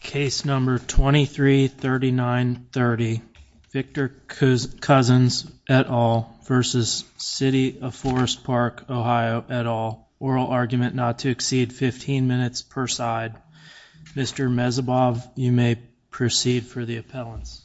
Case number 233930 Victor Cousens et al. v. City of Forest Park OH et al. Oral argument not to exceed 15 minutes per side. Mr. Mezebov, you may proceed for the appellants.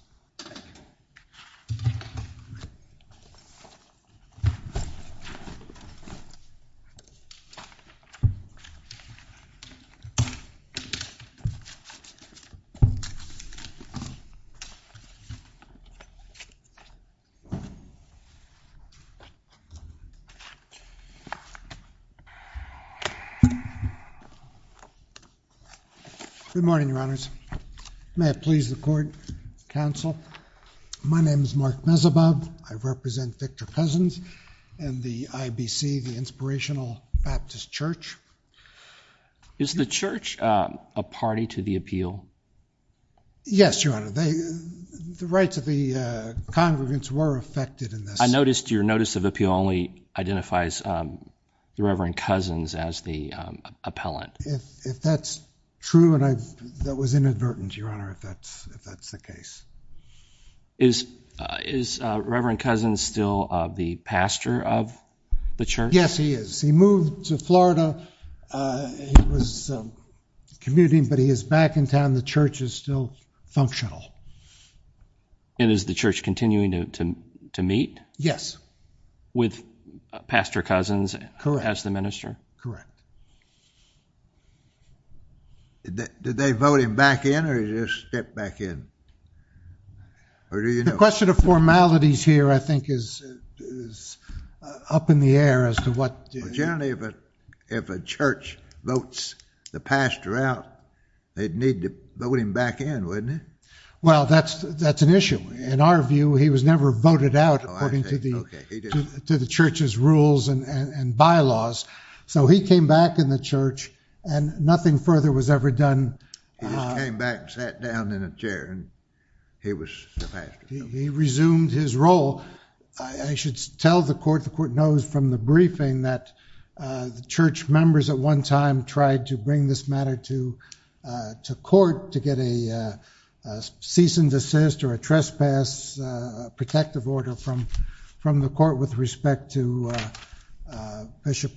Good morning, Your Honors. May it please the Court, Counsel, my name is Mark Mezebov. I represent Victor Cousens and the IBC, the Inspirational Baptist Church. Is the church a party to the appeal? Yes, Your Honor. The rights of the congregants were affected in this. I noticed your notice of appeal only identifies the Reverend Cousens as the appellant. If that's true and I that was inadvertent, Your Honor, if that's the case. Is Reverend Cousens still the pastor of the church? Yes, he is. He moved to Florida. He was commuting, but he is back in town. The church is still functional. And is the church continuing to meet? Yes. With Pastor Cousens as the minister? Correct. Did they vote him back in or did he just step back in? The question of formalities here, I think, is up in the air as to what... Generally, if a church votes the pastor out, they'd need to vote him back in, wouldn't they? Well, that's an issue. In our view, he was never voted out according to the church's rules and bylaws. So he came back in the church and nothing further was ever done. He just came back and sat down in a chair and he was the pastor. He resumed his role. I should tell the court, the court knows from the briefing that the church members at one time tried to bring this matter to court to get a cease and desist or a trespass protective order from the court with respect to Bishop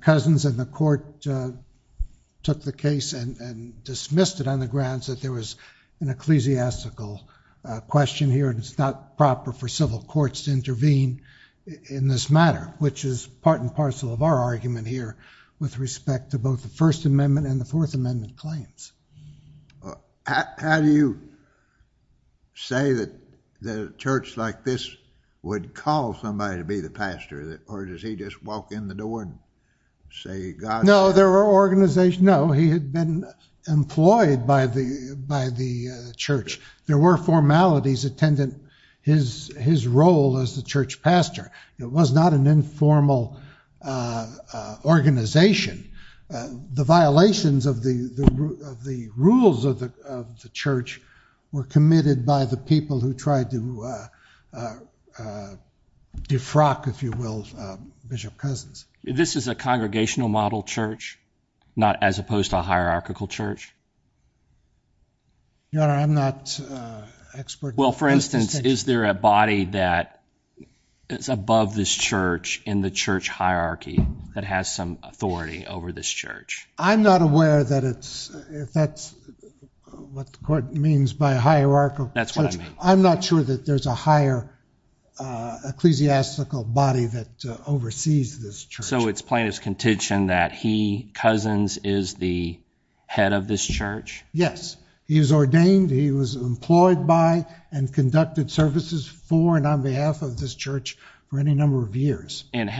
Cousens. And the court took the case and dismissed it on the grounds that there was an ecclesiastical question here and it's not proper for civil courts to intervene in this matter, which is part and parcel of our argument here with respect to both the First Amendment and the Fourth Amendment claims. How do you say that the church like this would call somebody to be the pastor or does he just walk in the door and say, God... No, there were formalities employed by the church. There were formalities attendant his role as the church pastor. It was not an informal organization. The violations of the rules of the church were committed by the people who tried to defrock, if you will, Bishop Cousens. This is a congregational model church, not as opposed to a hierarchical church? Your Honor, I'm not expert. Well, for instance, is there a body that is above this church in the church hierarchy that has some authority over this church? I'm not aware that it's... if that's what the court means by a hierarchical church, I'm not sure that there's a higher ecclesiastical body that oversees this church. So it's plaintiff's intention that he, Cousens, is the head of this church? Yes. He is ordained, he was employed by and conducted services for and on behalf of this church for any number of years. And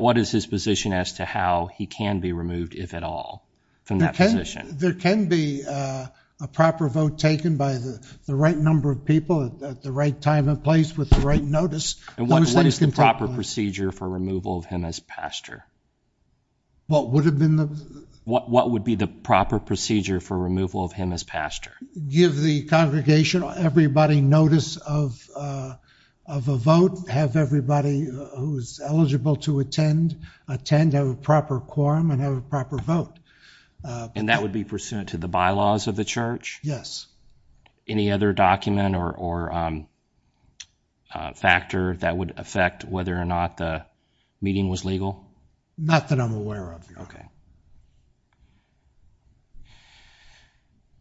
what is his position as to how he can be removed, if at all, from that position? There can be a proper vote taken by the right number of people at the right time and place with the right notice. And what is the proper procedure for removal of him as pastor? What would have been the... what would be the proper procedure for removal of him as pastor? Give the congregation, everybody, notice of a vote, have everybody who's eligible to attend attend a proper quorum and have a proper vote. And that would be pursuant to the bylaws of the church? Yes. Any other document or factor that would affect whether or not the meeting was legal? Not that I'm aware of. Okay.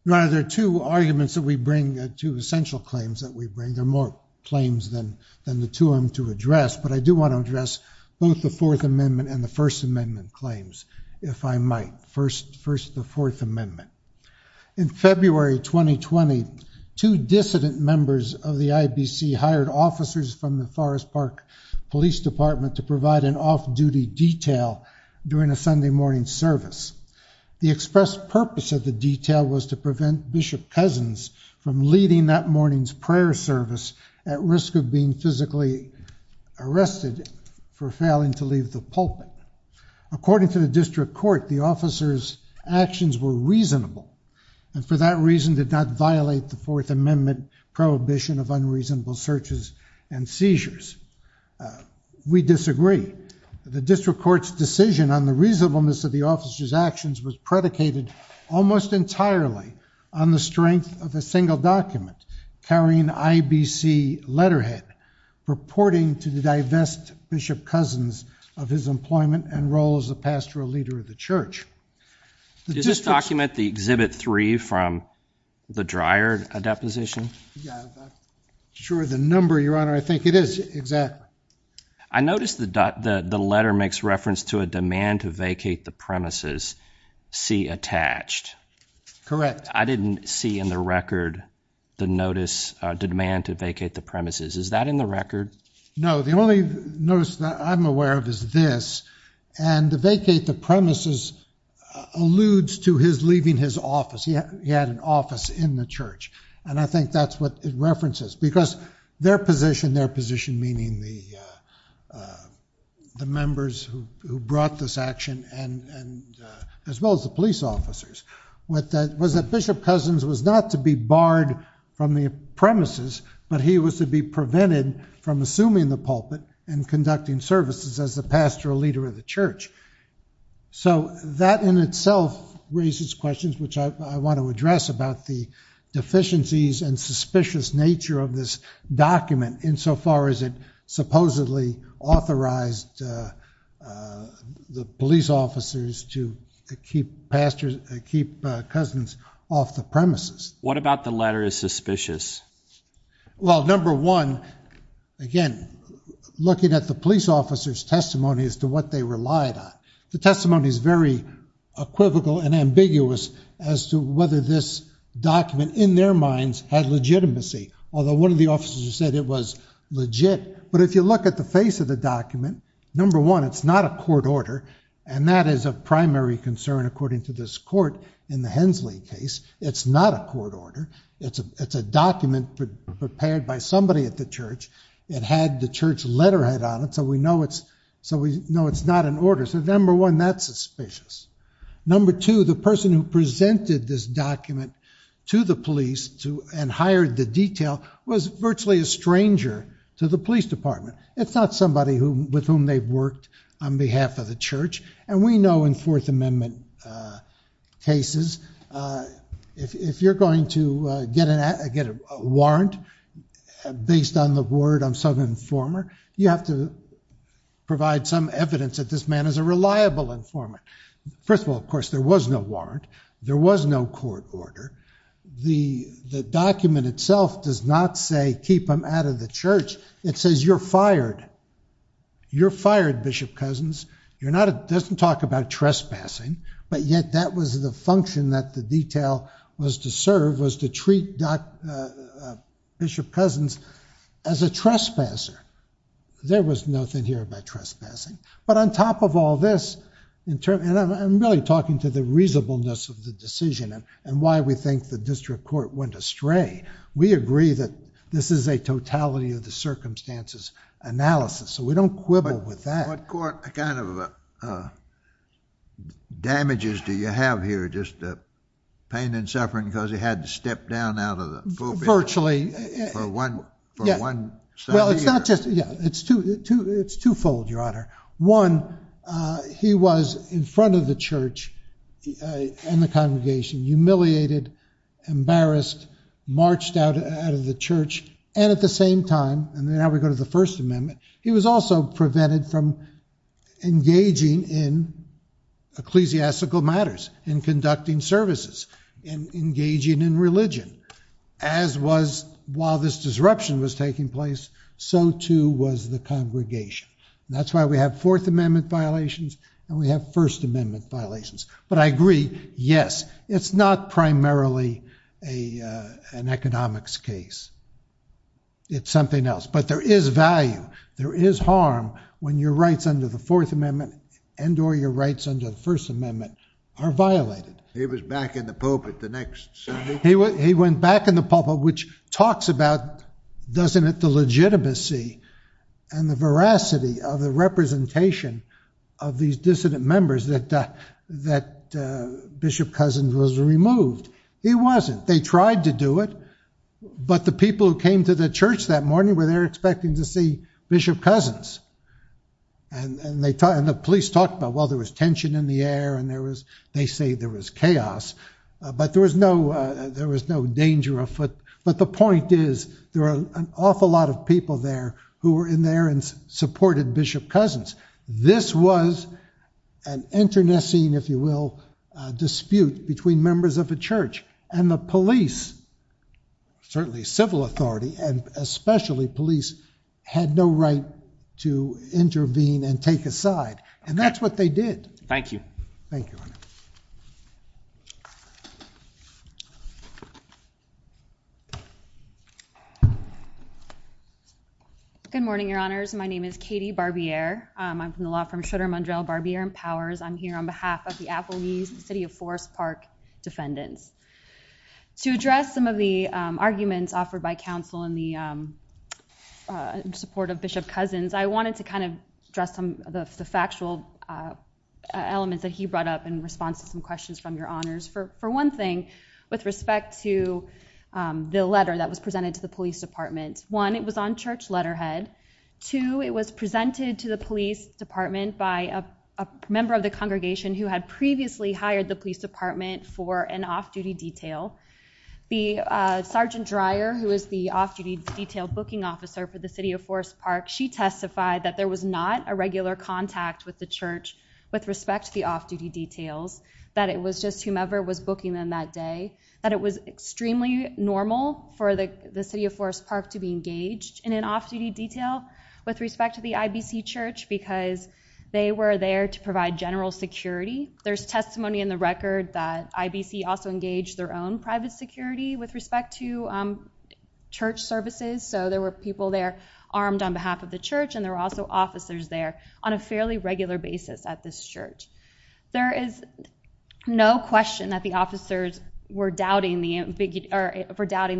Now, there are two arguments that we bring, two essential claims that we bring. There are more claims than the two of them to address, but I do want to address both the Fourth Amendment and the First Amendment claims, if I might. First, the Fourth Amendment. In February 2020, two dissident members of the IBC hired officers from the Forest Park Police Department to provide an off-duty detail during a Sunday morning service. The express purpose of the detail was to prevent Bishop Cousins from leading that morning's prayer service at risk of being physically arrested for failing to leave the pulpit. According to the district court, the officers' actions were reasonable, and for that reason did not violate the Fourth Amendment prohibition of unreasonable searches and seizures. We disagree. The district court's decision on the reasonableness of the officers' actions was predicated almost entirely on the strength of a single document carrying IBC letterhead purporting to divest Bishop Cousins of his employment and role as a pastoral leader of the church. Does this document the Exhibit 3 from the Dreyer deposition? Yeah, sure, the number, your Honor, I think it is, exactly. I noticed that the letter makes reference to a demand to vacate the premises, C attached. Correct. I didn't see in the record the notice to demand to vacate the premises. Is that in the record? No, the only notice that I'm aware of is this, and to vacate the premises alludes to his leaving his office. He had an office in the church, and I think that's what it references, because their position, their position meaning the members who brought this action, as well as the police officers, was that Bishop Cousins was not to be barred from the premises, but he was to be prevented from assuming the pulpit and conducting services as the pastoral leader of the church. So that in itself raises questions which I want to address about the deficiencies and suspicious nature of this document, insofar as it supposedly authorized the police officers to keep pastors, keep Cousins off the premises. What about the letter is suspicious? Well, number one, again, looking at the police officers testimony as to what they relied on, the testimony is very equivocal and ambiguous as to whether this document in their minds had legitimacy, although one of the officers said it was legit. But if you look at the face of the document, number one, it's not a court order, and that is a primary concern according to this court in the Hensley case. It's not a court order. It's a document prepared by somebody at the church. It had the church letterhead on it, so we know it's not an order. So number one, that's suspicious. Number two, the person who presented this document to the police and hired the detail was virtually a stranger to the police department. It's not somebody with whom they've worked on behalf of the church, and we know in Fourth Amendment cases, if you're going to get a warrant based on the word of some informer, you have to provide some evidence that this man is a reliable informer. First of all, of course, there was no warrant. There was no court order. The document itself does not say, keep him out of the church. It says you're fired. You're fired, Bishop Cousins. It doesn't talk about trespassing, but yet that was the detail was to serve, was to treat Bishop Cousins as a trespasser. There was nothing here about trespassing, but on top of all this, and I'm really talking to the reasonableness of the decision and why we think the district court went astray. We agree that this is a totality of the circumstances analysis, so we don't quibble with that. What kind of damages do you have here, just pain and suffering because he had to step down out of the pulpit? Virtually. It's twofold, Your Honor. One, he was in front of the church and the congregation, humiliated, embarrassed, marched out of the church, and at the same time, and now we go to the First Amendment, he was also prevented from engaging in ecclesiastical matters, in conducting services, in engaging in religion, as was, while this disruption was taking place, so too was the congregation. That's why we have Fourth Amendment violations and we have First Amendment violations, but I agree, yes, it's not primarily an economics case. It's something else, but there is value. There is harm when your rights under the Fourth Amendment and or your rights under the First Amendment are violated. He was back in the pulpit the next Sunday. He went back in the pulpit, which talks about, doesn't it, the legitimacy and the veracity of the representation of these dissident members that Bishop Cousins was removed. He wasn't. They tried to do it, but the people who came to the church that morning were there expecting to see Bishop Cousins, and the police talked about, well, there was tension in the air and there was, they say there was chaos, but there was no, there was no danger of, but the point is, there are an awful lot of people there who were in there and supported Bishop Cousins. This was an internecine, if you will, dispute between members of the church and the police, certainly civil authority, and especially police had no right to intervene and take a side, and that's what they did. Thank you. Thank you. Good morning, your honors. My name is Katie Barbier. I'm from the law firm Schroeder Mondrell Barbier and Powers. I'm here on behalf of the Appalachians, the City of Forest Park defendants. To address some of the arguments offered by counsel in the support of Bishop Cousins, I wanted to kind of address some of the factual elements that he brought up in response to some questions from your honors. For one thing, with respect to the letter that was presented to the police department, one, it was on church letterhead. Two, it was presented to the police department by a member of the congregation who had previously hired the police department for an off-duty detail. The Sergeant Dreyer, who is the off-duty detailed booking officer for the City of Forest Park, she testified that there was not a regular contact with the church with respect to the off-duty details, that it was just whomever was booking them that day, that it was extremely normal for the City of Forest Park to be engaged in an off-duty detail with respect to the IBC church because they were there to provide general security. There's testimony in the record that IBC also engaged their own private security with respect to church services, so there were people there armed on behalf of the church and there were also officers there on a fairly regular basis at this church. There is no question that the officers were doubting the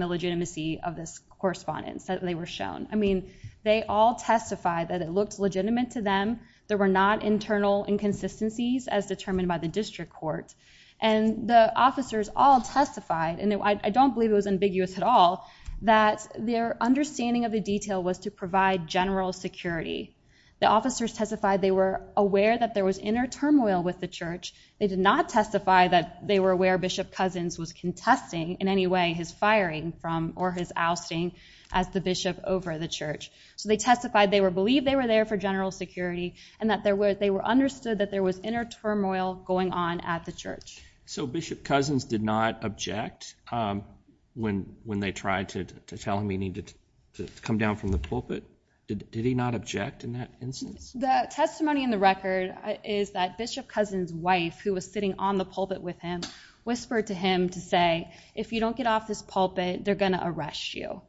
legitimacy of this correspondence that they were shown. I mean, they all testified that it looked legitimate to them, there were not internal inconsistencies as determined by the district court, and the officers all testified, and I don't believe it was ambiguous at all, that their understanding of the detail was to provide general security. The officers testified they were aware that there was inner turmoil with the church, they did not testify that they were aware Bishop Cousins was contesting in any way his firing from or his ousting as the bishop over the church, so they testified they were believed they were there for general security and that they were understood that there was inner turmoil going on at the church. So Bishop Cousins did not object when they tried to tell him he needed to come down from the pulpit? Did he not object in that instance? The testimony in the record is that Bishop Cousins' wife, who was sitting on the pulpit with him, whispered to him to say, if you don't get off this pulpit, they're going to arrest you.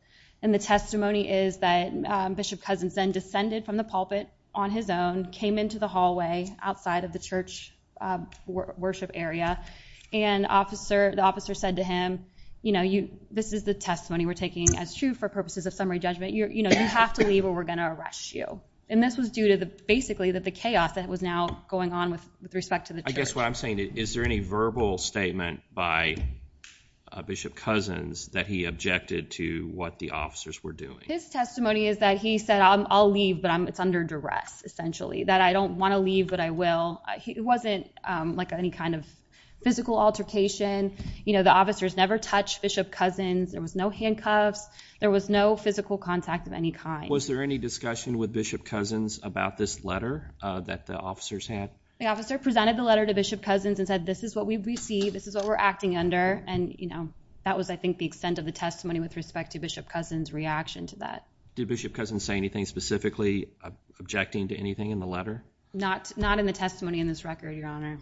And the testimony is that Bishop Cousins then descended from the pulpit on his own, came into the hallway outside of the church worship area, and the officer said to him, you know, this is the testimony we're taking as true for purposes of summary judgment, you know, you have to leave or we're going to arrest you. And this was due to basically the chaos that was now going on with respect to the church. I guess what I'm saying is, is there any verbal statement by Bishop Cousins that he objected to what the officers were doing? His testimony is that he said I'll leave but it's under duress, essentially, that I don't want to leave but I will. It wasn't like any kind of physical altercation, you know, the officers never touched Bishop Cousins, there was no handcuffs, there was no physical contact of any kind. Was there any discussion with Bishop Cousins about this letter that the officers had? The officer presented the letter to Bishop Cousins and said this is what we've received, this is what we're acting under, and you know, that was I think the extent of the testimony with respect to Bishop Cousins' reaction to that. Did Bishop Cousins say anything specifically objecting to anything in the letter? Not, not in the testimony in this record, Your Honor.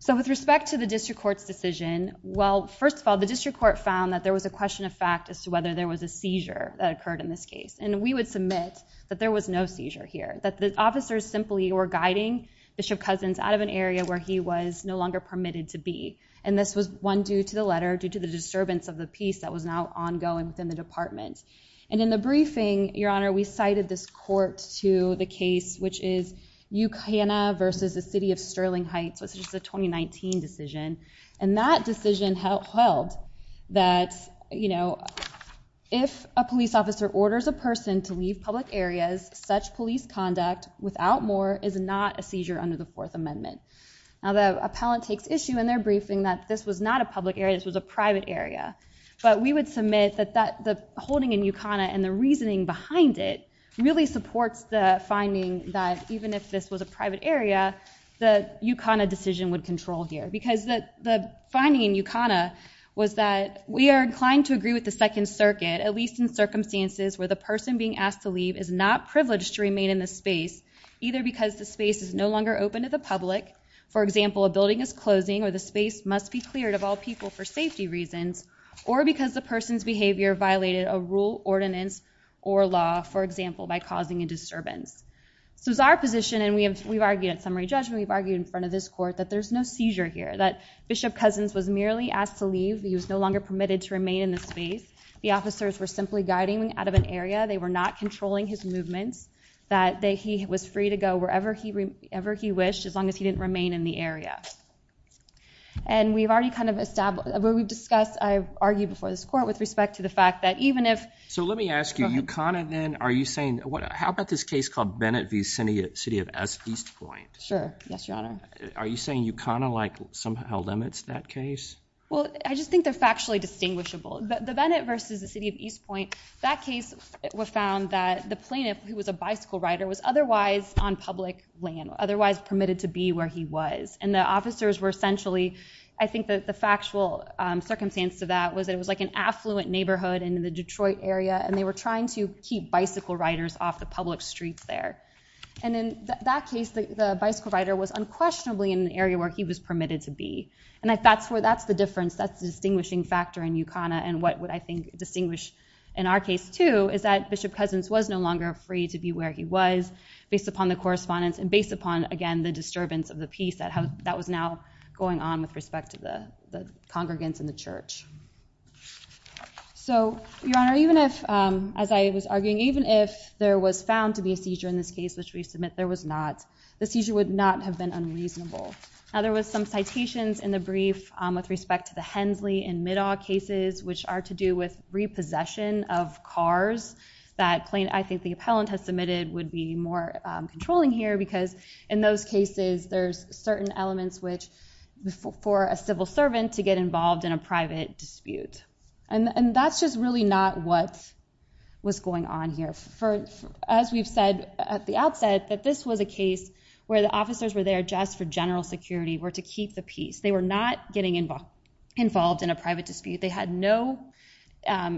So with respect to the district court's decision, well, first of all, the district court found that there was a question of fact as to whether there was a seizure that occurred in this case, and we would submit that there was no seizure here, that the officers simply were guiding Bishop Cousins out of an area where he was no longer permitted to be, and this was one due to the letter, due to the disturbance of the peace that was now ongoing within the department. And in the briefing, Your Honor, we cited this court to the case which is Ucana versus the City of Sterling Heights, which is a 2019 decision, and that decision held that, you know, if a police officer orders a person to leave public areas, such police conduct without more is not a seizure under the Fourth Amendment. Now the appellant takes issue in their briefing that this was not a public area, this was a private area, but we would submit that the holding in Ucana and the reasoning behind it really supports the finding that even if this was a private area, the Ucana decision would control here, because the finding in Ucana was that we are inclined to agree with the Second Circuit, at least in circumstances where the person being asked to leave is not privileged to remain in the space, either because the space is no longer open to the public, for example, a building is closing or the space must be cleared of all people for safety reasons, or because the person's behavior violated a rule, ordinance, or law, for example, by causing a disturbance. So it's our position, and we have we've argued at summary judgment, we've argued in front of this court, that there's no seizure here, that Bishop Cousins was merely asked to leave, he was no longer permitted to remain in the space, the officers were simply guiding out of an area, they were not controlling his movements, that he was free to go wherever he ever he wished as long as he didn't remain in the area. And we've already kind of established, we've discussed, I've argued before this court with respect to the fact that even if... So let me ask you, Ucana then, are you saying, how about this case called Bennett v. City of East Point? Sure, yes, your honor. Are you saying Ucana somehow limits that case? Well, I just think they're factually distinguishable. The Bennett versus the City of East Point, that case was found that the plaintiff, who was a bicycle rider, was otherwise on public land, otherwise permitted to be where he was, and the officers were essentially, I think that the factual circumstance to that was it was like an affluent neighborhood in the Detroit area, and they were trying to keep bicycle riders off the public streets there. And in that case, the bicycle rider was unquestionably in an area where he was permitted to be. And that's where that's the difference, that's the distinguishing factor in Ucana, and what would I think distinguish in our case too, is that Bishop Cousins was no longer free to be where he was based upon the correspondence, and based upon, again, the disturbance of the peace that was now going on with respect to the congregants in the church. So your honor, even if, as I was arguing, even if there was found to be a seizure in this case, which we submit there was not, the seizure would not have been unreasonable. Now there was some citations in the brief with respect to the Hensley and Middaw cases, which are to do with repossession of cars, that plaintiff, I think the appellant has submitted, would be more controlling here, because in those cases there's certain elements which, for a civil servant to get involved in a private dispute. And that's just really not what was going on here. As we've said at the outset, that this was a case where the officers were there just for general security, were to keep the peace. They were not getting involved in a private dispute. They had no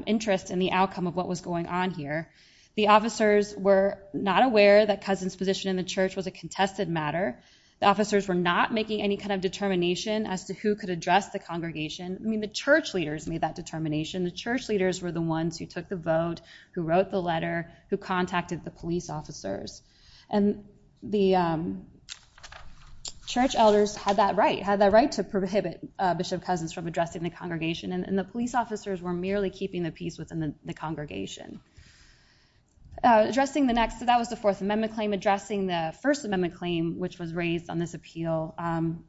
interest in the outcome of what was going on here. The officers were not aware that Cousins' position in the church was a contested matter. The officers were not making any kind of determination as to who could address the congregation. I mean, the church leaders made that determination. The church leaders were the ones who took the vote, who wrote the letter, who contacted the police officers. And the church elders had that right, had that right to prohibit Bishop Cousins from addressing the congregation. And the police officers were merely keeping the peace within the congregation. Addressing the next, that was the Fourth Amendment claim. Addressing the First Amendment claim, which was raised on this appeal,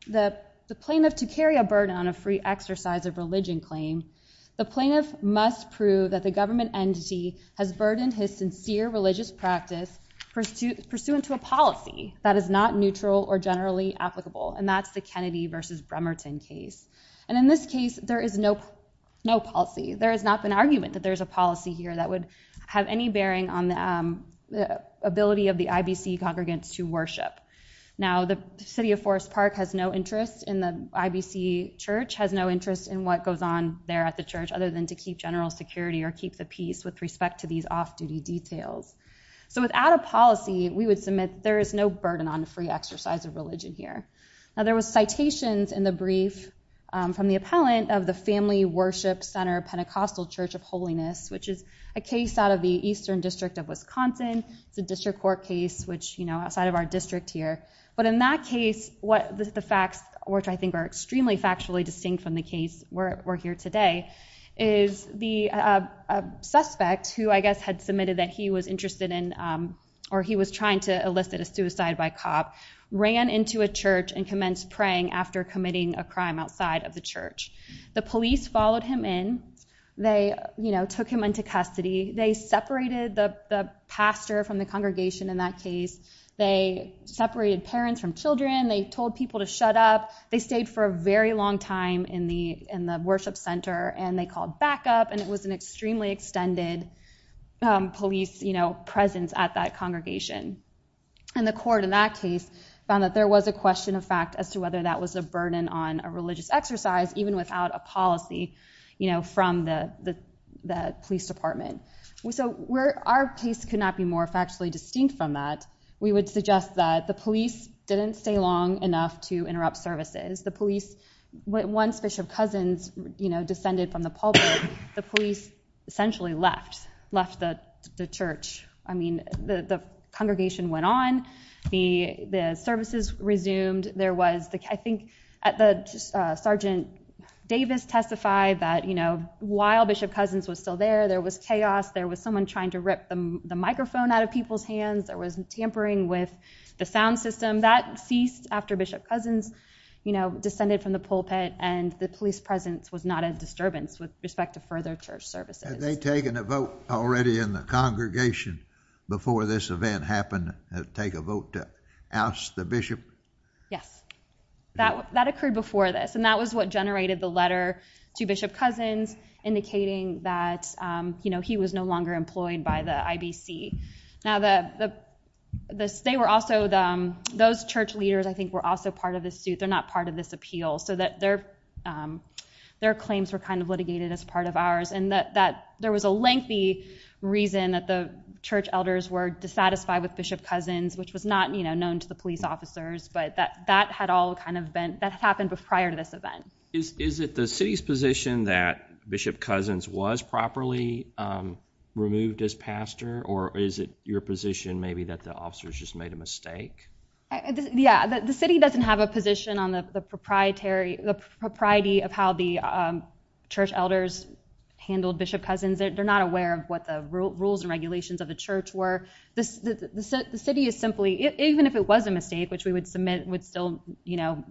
the plaintiff, to carry a burden on a free exercise of religion claim, the must prove that the government entity has burdened his sincere religious practice pursuant to a policy that is not neutral or generally applicable. And that's the Kennedy versus Bremerton case. And in this case, there is no policy. There has not been argument that there's a policy here that would have any bearing on the ability of the IBC congregants to worship. Now, the city of Forest Park has no interest in the IBC church, has no interest in what goes on there at the church, other than to keep general security or keep the peace with respect to these off-duty details. So without a policy, we would submit there is no burden on the free exercise of religion here. Now, there was citations in the brief from the appellant of the Family Worship Center Pentecostal Church of Holiness, which is a case out of the Eastern District of Wisconsin. It's a district court case, which, you know, outside of our district here. But in that case, what the facts, which I think are extremely factually distinct from the case where we're here today, is the suspect, who I guess had submitted that he was interested in or he was trying to elicit a suicide by cop, ran into a church and commenced praying after committing a crime outside of the church. The police followed him in. They, you know, took him into custody. They separated the pastor from the congregation in that case. They separated parents from children. They told people to shut up. They stayed for a very long time in the worship center, and they called backup. And it was an extremely extended police, you know, presence at that congregation. And the court in that case found that there was a question of fact as to whether that was a burden on a religious exercise, even without a policy, you know, from the police department. So where our case could not be more factually distinct from that, we would suggest that the police didn't stay long enough to interrupt services. The police, once Bishop Cousins, you know, descended from the pulpit, the police essentially left, left the church. I mean, the congregation went on. The services resumed. There was, I think, Sergeant Davis testified that, you know, while Bishop Cousins was still there, there was chaos. There was someone trying to rip the microphone out of people's hands. There was tampering with the sound descended from the pulpit, and the police presence was not a disturbance with respect to further church services. Had they taken a vote already in the congregation before this event happened, take a vote to oust the bishop? Yes. That occurred before this, and that was what generated the letter to Bishop Cousins indicating that, you know, he was no longer employed by the IBC. Now, they were also, those church leaders, I think, were also part of the suit. They're not part of this appeal, so their claims were kind of litigated as part of ours, and that there was a lengthy reason that the church elders were dissatisfied with Bishop Cousins, which was not, you know, known to the police officers, but that had all kind of been, that happened prior to this event. Is it the city's position that Bishop Cousins was properly removed as pastor, or is it your position maybe that the officers just made a mistake? Yeah, the city doesn't have a position on the proprietary, the propriety of how the church elders handled Bishop Cousins. They're not aware of what the rules and regulations of the church were. The city is simply, even if it was a mistake, which we would submit would still, you know,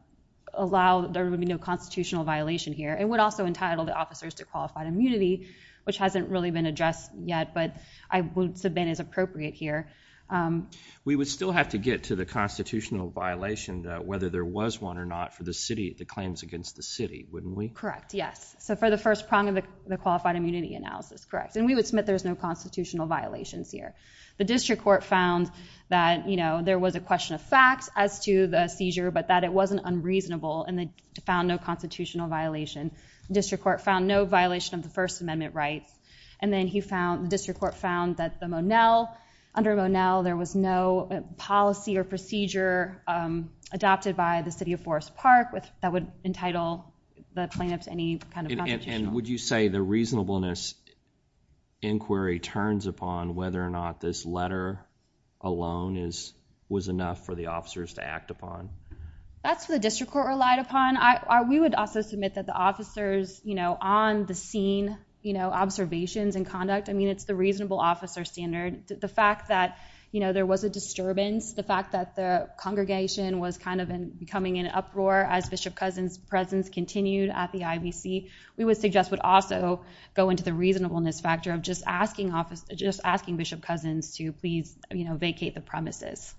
allow, there would be no constitutional violation here. It would also entitle the officers to qualified immunity, which hasn't really been addressed yet, but I would submit as appropriate here. We would still have to get to the constitutional violation, whether there was one or not, for the city, the claims against the city, wouldn't we? Correct, yes. So for the first prong of the qualified immunity analysis, correct, and we would submit there's no constitutional violations here. The district court found that, you know, there was a question of facts as to the seizure, but that it wasn't unreasonable, and they found no constitutional violation. The district court found no violation of the First Amendment rights, and then he found, the there was no policy or procedure adopted by the city of Forest Park that would entitle the plaintiffs any kind of constitutional. And would you say the reasonableness inquiry turns upon whether or not this letter alone is, was enough for the officers to act upon? That's what the district court relied upon. I, we would also submit that the officers, you know, on the scene, you know, observations and conduct, I mean, it's the reasonable officer standard. The fact that, you know, there was a disturbance, the fact that the congregation was kind of becoming an uproar as Bishop Cousins' presence continued at the IBC, we would suggest would also go into the reasonableness factor of just asking office, just asking Bishop Cousins to please, you know, vacate the premises.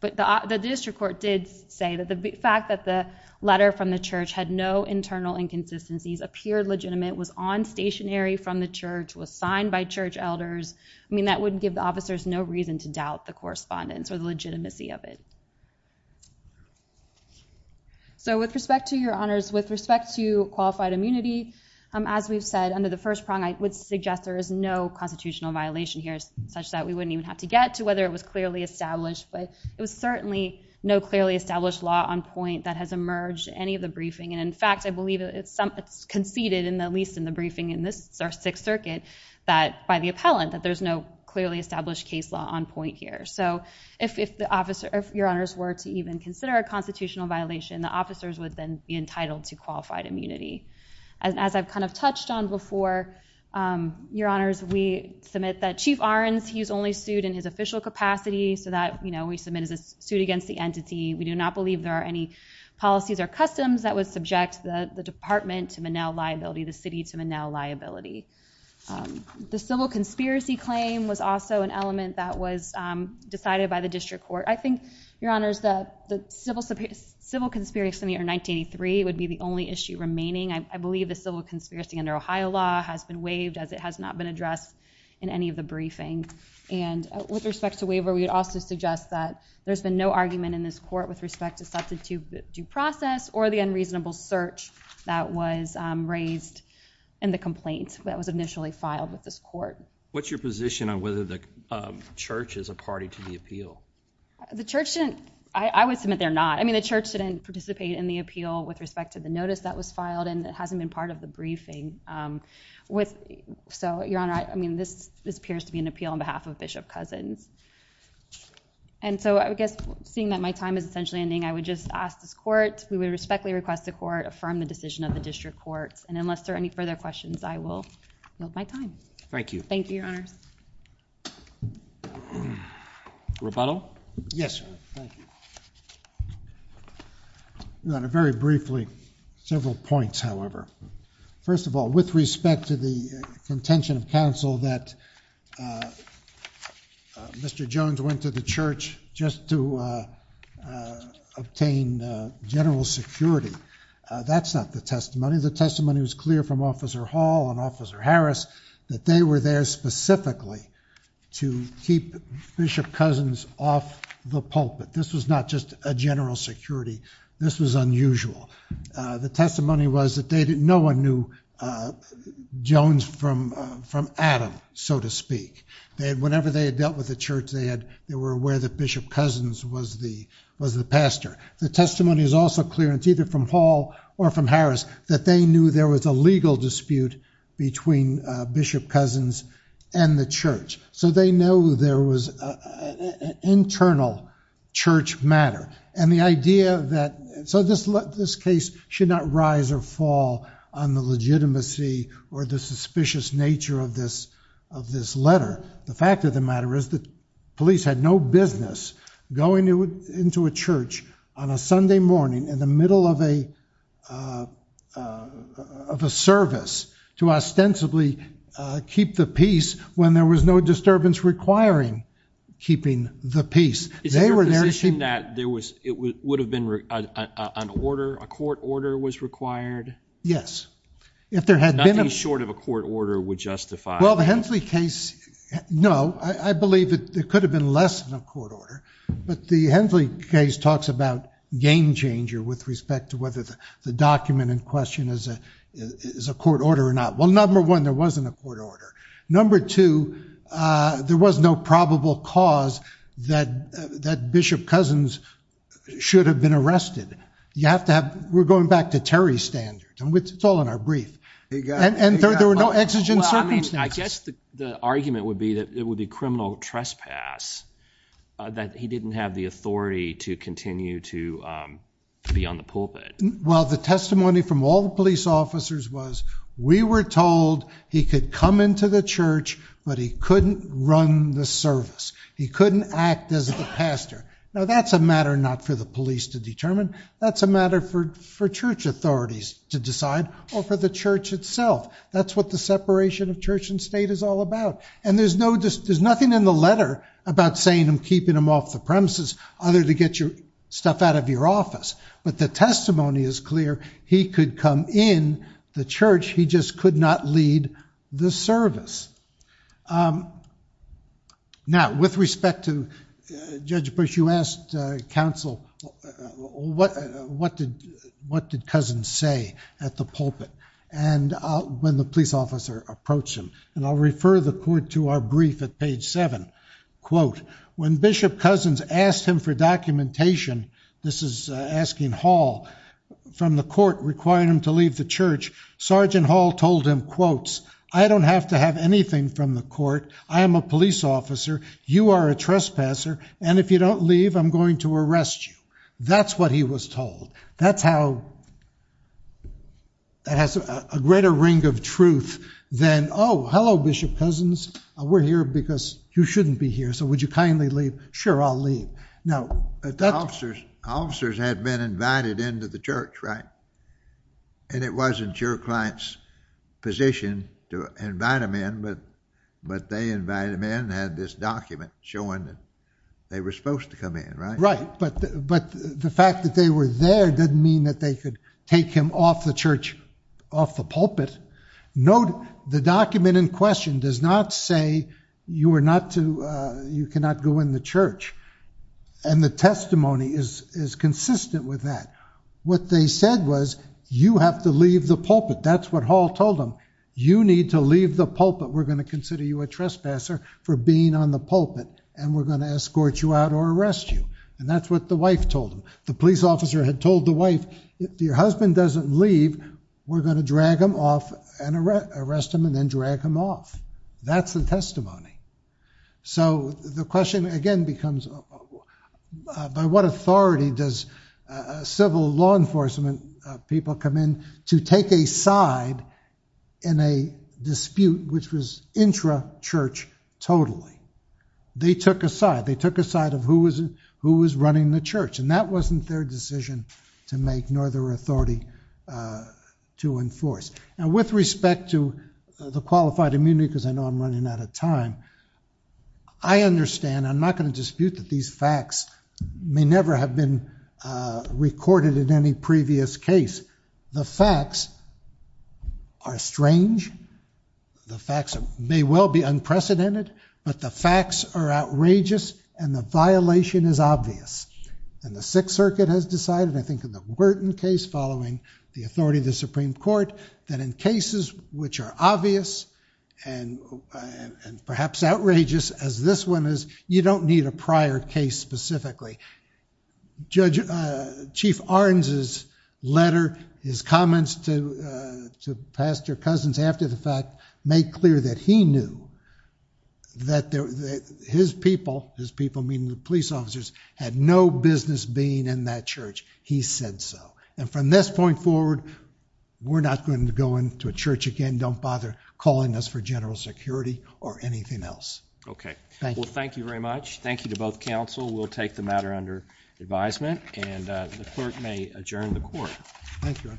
But the district court did say that the fact that the letter from the church had no internal inconsistencies, appeared legitimate, was on stationary from the church, was signed by church elders. I mean, that would give the officers no reason to doubt the correspondence or the legitimacy of it. So with respect to your honors, with respect to qualified immunity, as we've said, under the first prong, I would suggest there is no constitutional violation here, such that we wouldn't even have to get to whether it was clearly established. But it was certainly no clearly established law on point that has emerged any of the briefing. And in fact, I believe it's some, it's conceded in the, at least in the briefing in this, our Sixth Circuit, that by the appellant, that there's no clearly established case law on point here. So if the officer, if your honors were to even consider a constitutional violation, the officers would then be entitled to qualified immunity. As I've kind of touched on before, your honors, we submit that Chief Ahrens, he's only sued in his official capacity. So that, you know, we submit as a suit against the entity. We do not believe there are any policies or customs that would subject the department to Monell liability, the city to Monell liability. The civil conspiracy claim was also an element that was decided by the district court. I think, your honors, the civil conspiracy in 1983 would be the only issue remaining. I believe the civil conspiracy under Ohio law has been waived as it has not been addressed in any of the briefing. And with respect to waiver, we would also suggest that there's been no argument in this court with respect to substitute due process or the unreasonable search that was raised in the complaint that was initially filed with this court. What's your position on whether the church is a party to the appeal? The church didn't, I would submit they're not. I mean, the church didn't participate in the appeal with respect to the notice that was filed and it hasn't been part of the briefing. So, your honor, I mean, this appears to be an appeal on behalf of Bishop Cousins. And so, I guess, seeing that my time is essentially ending, I would just ask this court, we would respectfully request the court affirm the decision of the district courts. And unless there are any further questions, I will move my time. Thank you. Thank you, your honors. Rebuttal? Yes, sir. Thank you. Your honor, very briefly, several points, however. First of all, with respect to the contention of counsel that Mr. Jones went to the church just to obtain general security, that's not the testimony. The testimony was clear from Officer Hall and Officer Harris, that they were there specifically to keep Bishop Cousins off the pulpit. This was not just a general security. This was unusual. The testimony was that no one knew Jones from Adam. So to speak. Whenever they had dealt with the church, they were aware that Bishop Cousins was the pastor. The testimony is also clear, and it's either from Hall or from Harris, that they knew there was a legal dispute between Bishop Cousins and the church. So, they know there was an internal church matter. And the idea that, so, this case should not rise or fall on the legitimacy or the suspicious nature of this letter. The fact of the matter is that police had no business going into a church on a Sunday morning in the middle of a service to ostensibly keep the peace when there was no disturbance requiring keeping the peace. Is it your position that there was, it would have been an order, a court order was required? Yes. Nothing short of a court order would justify. Well, the Hensley case, no, I believe that there could have been less than a court order, but the Hensley case talks about game changer with respect to whether the document in question is a court order or not. Well, number one, there wasn't a court order. Number two, there was no probable cause that Bishop Cousins should have been arrested. You have to have, we're going back to Terry's standard, and it's all in our brief. And there were no exigent circumstances. Well, I mean, I guess the argument would be that it would be criminal trespass, that he didn't have the authority to continue to be on the pulpit. Well, the testimony from all the police officers was, we were told he could come into the church, but he couldn't run the service. He couldn't act as the pastor. Now, that's a matter not for the police to determine. That's a matter for church authorities to decide, or for the church itself. That's what the separation of church and state is all about. And there's nothing in the letter about saying I'm keeping him off the premises, other to get your stuff out of your office. But the testimony is clear. He could come in the church. He just could not lead the service. Now, with respect to Judge Bush, you asked counsel, what did Cousins say at the pulpit when the police officer approached him? And I'll refer the court to our brief at page seven. Quote, when Bishop Cousins asked him for documentation, this is asking Hall from the court requiring him to leave the church, Sergeant Hall told him, quotes, I don't have to have anything from the court. I am a police officer. You are a trespasser. And if you don't leave, I'm going to arrest you. That's what he was told. That's how that has a greater ring of truth than, oh, hello, Bishop Cousins. We're here because you shouldn't be here. So would you kindly leave? Sure, I'll leave. Now, that's... Officers had been invited into the church, right? And it wasn't your client's position to invite them in, but they invited them in and had this document showing that they were supposed to come in, right? Right, but the fact that they were there didn't mean that they could take him off the church, off the pulpit. Note, the document in question does not say you were not to, you cannot go in the church. And the testimony is consistent with that. What they said was, you have to leave the pulpit. That's what Hall told them. You need to leave the pulpit. We're going to consider you a trespasser for being on the pulpit. And we're going to escort you out or arrest you. And that's what the wife told him. The police officer had told the wife, if your husband doesn't leave, we're going to drag him off and arrest him and then drag him off. That's the testimony. So the question again becomes, by what authority does civil law enforcement people come in to take a side in a dispute which was intra-church totally? They took a side. They took a side of who was running the church, and that wasn't their decision to make, nor their authority to enforce. Now, with respect to the qualified immunity, because I know I'm running out of time, I understand. I'm not in dispute that these facts may never have been recorded in any previous case. The facts are strange. The facts may well be unprecedented. But the facts are outrageous, and the violation is obvious. And the Sixth Circuit has decided, I think in the Wharton case following the authority of the Supreme Court, that in cases which are obvious and perhaps outrageous, as this one is, you don't need a prior case specifically. Chief Ahrens's letter, his comments to Pastor Cousins after the fact, made clear that he knew that his people, his people meaning the police officers, had no business being in that church. He said so. And from this point forward, we're not going to go into a church again. Don't bother calling us for general security or anything else. Okay. Well, thank you very much. Thank you to both counsel. We'll take the matter under advisement, and the clerk may adjourn the court. Thank you.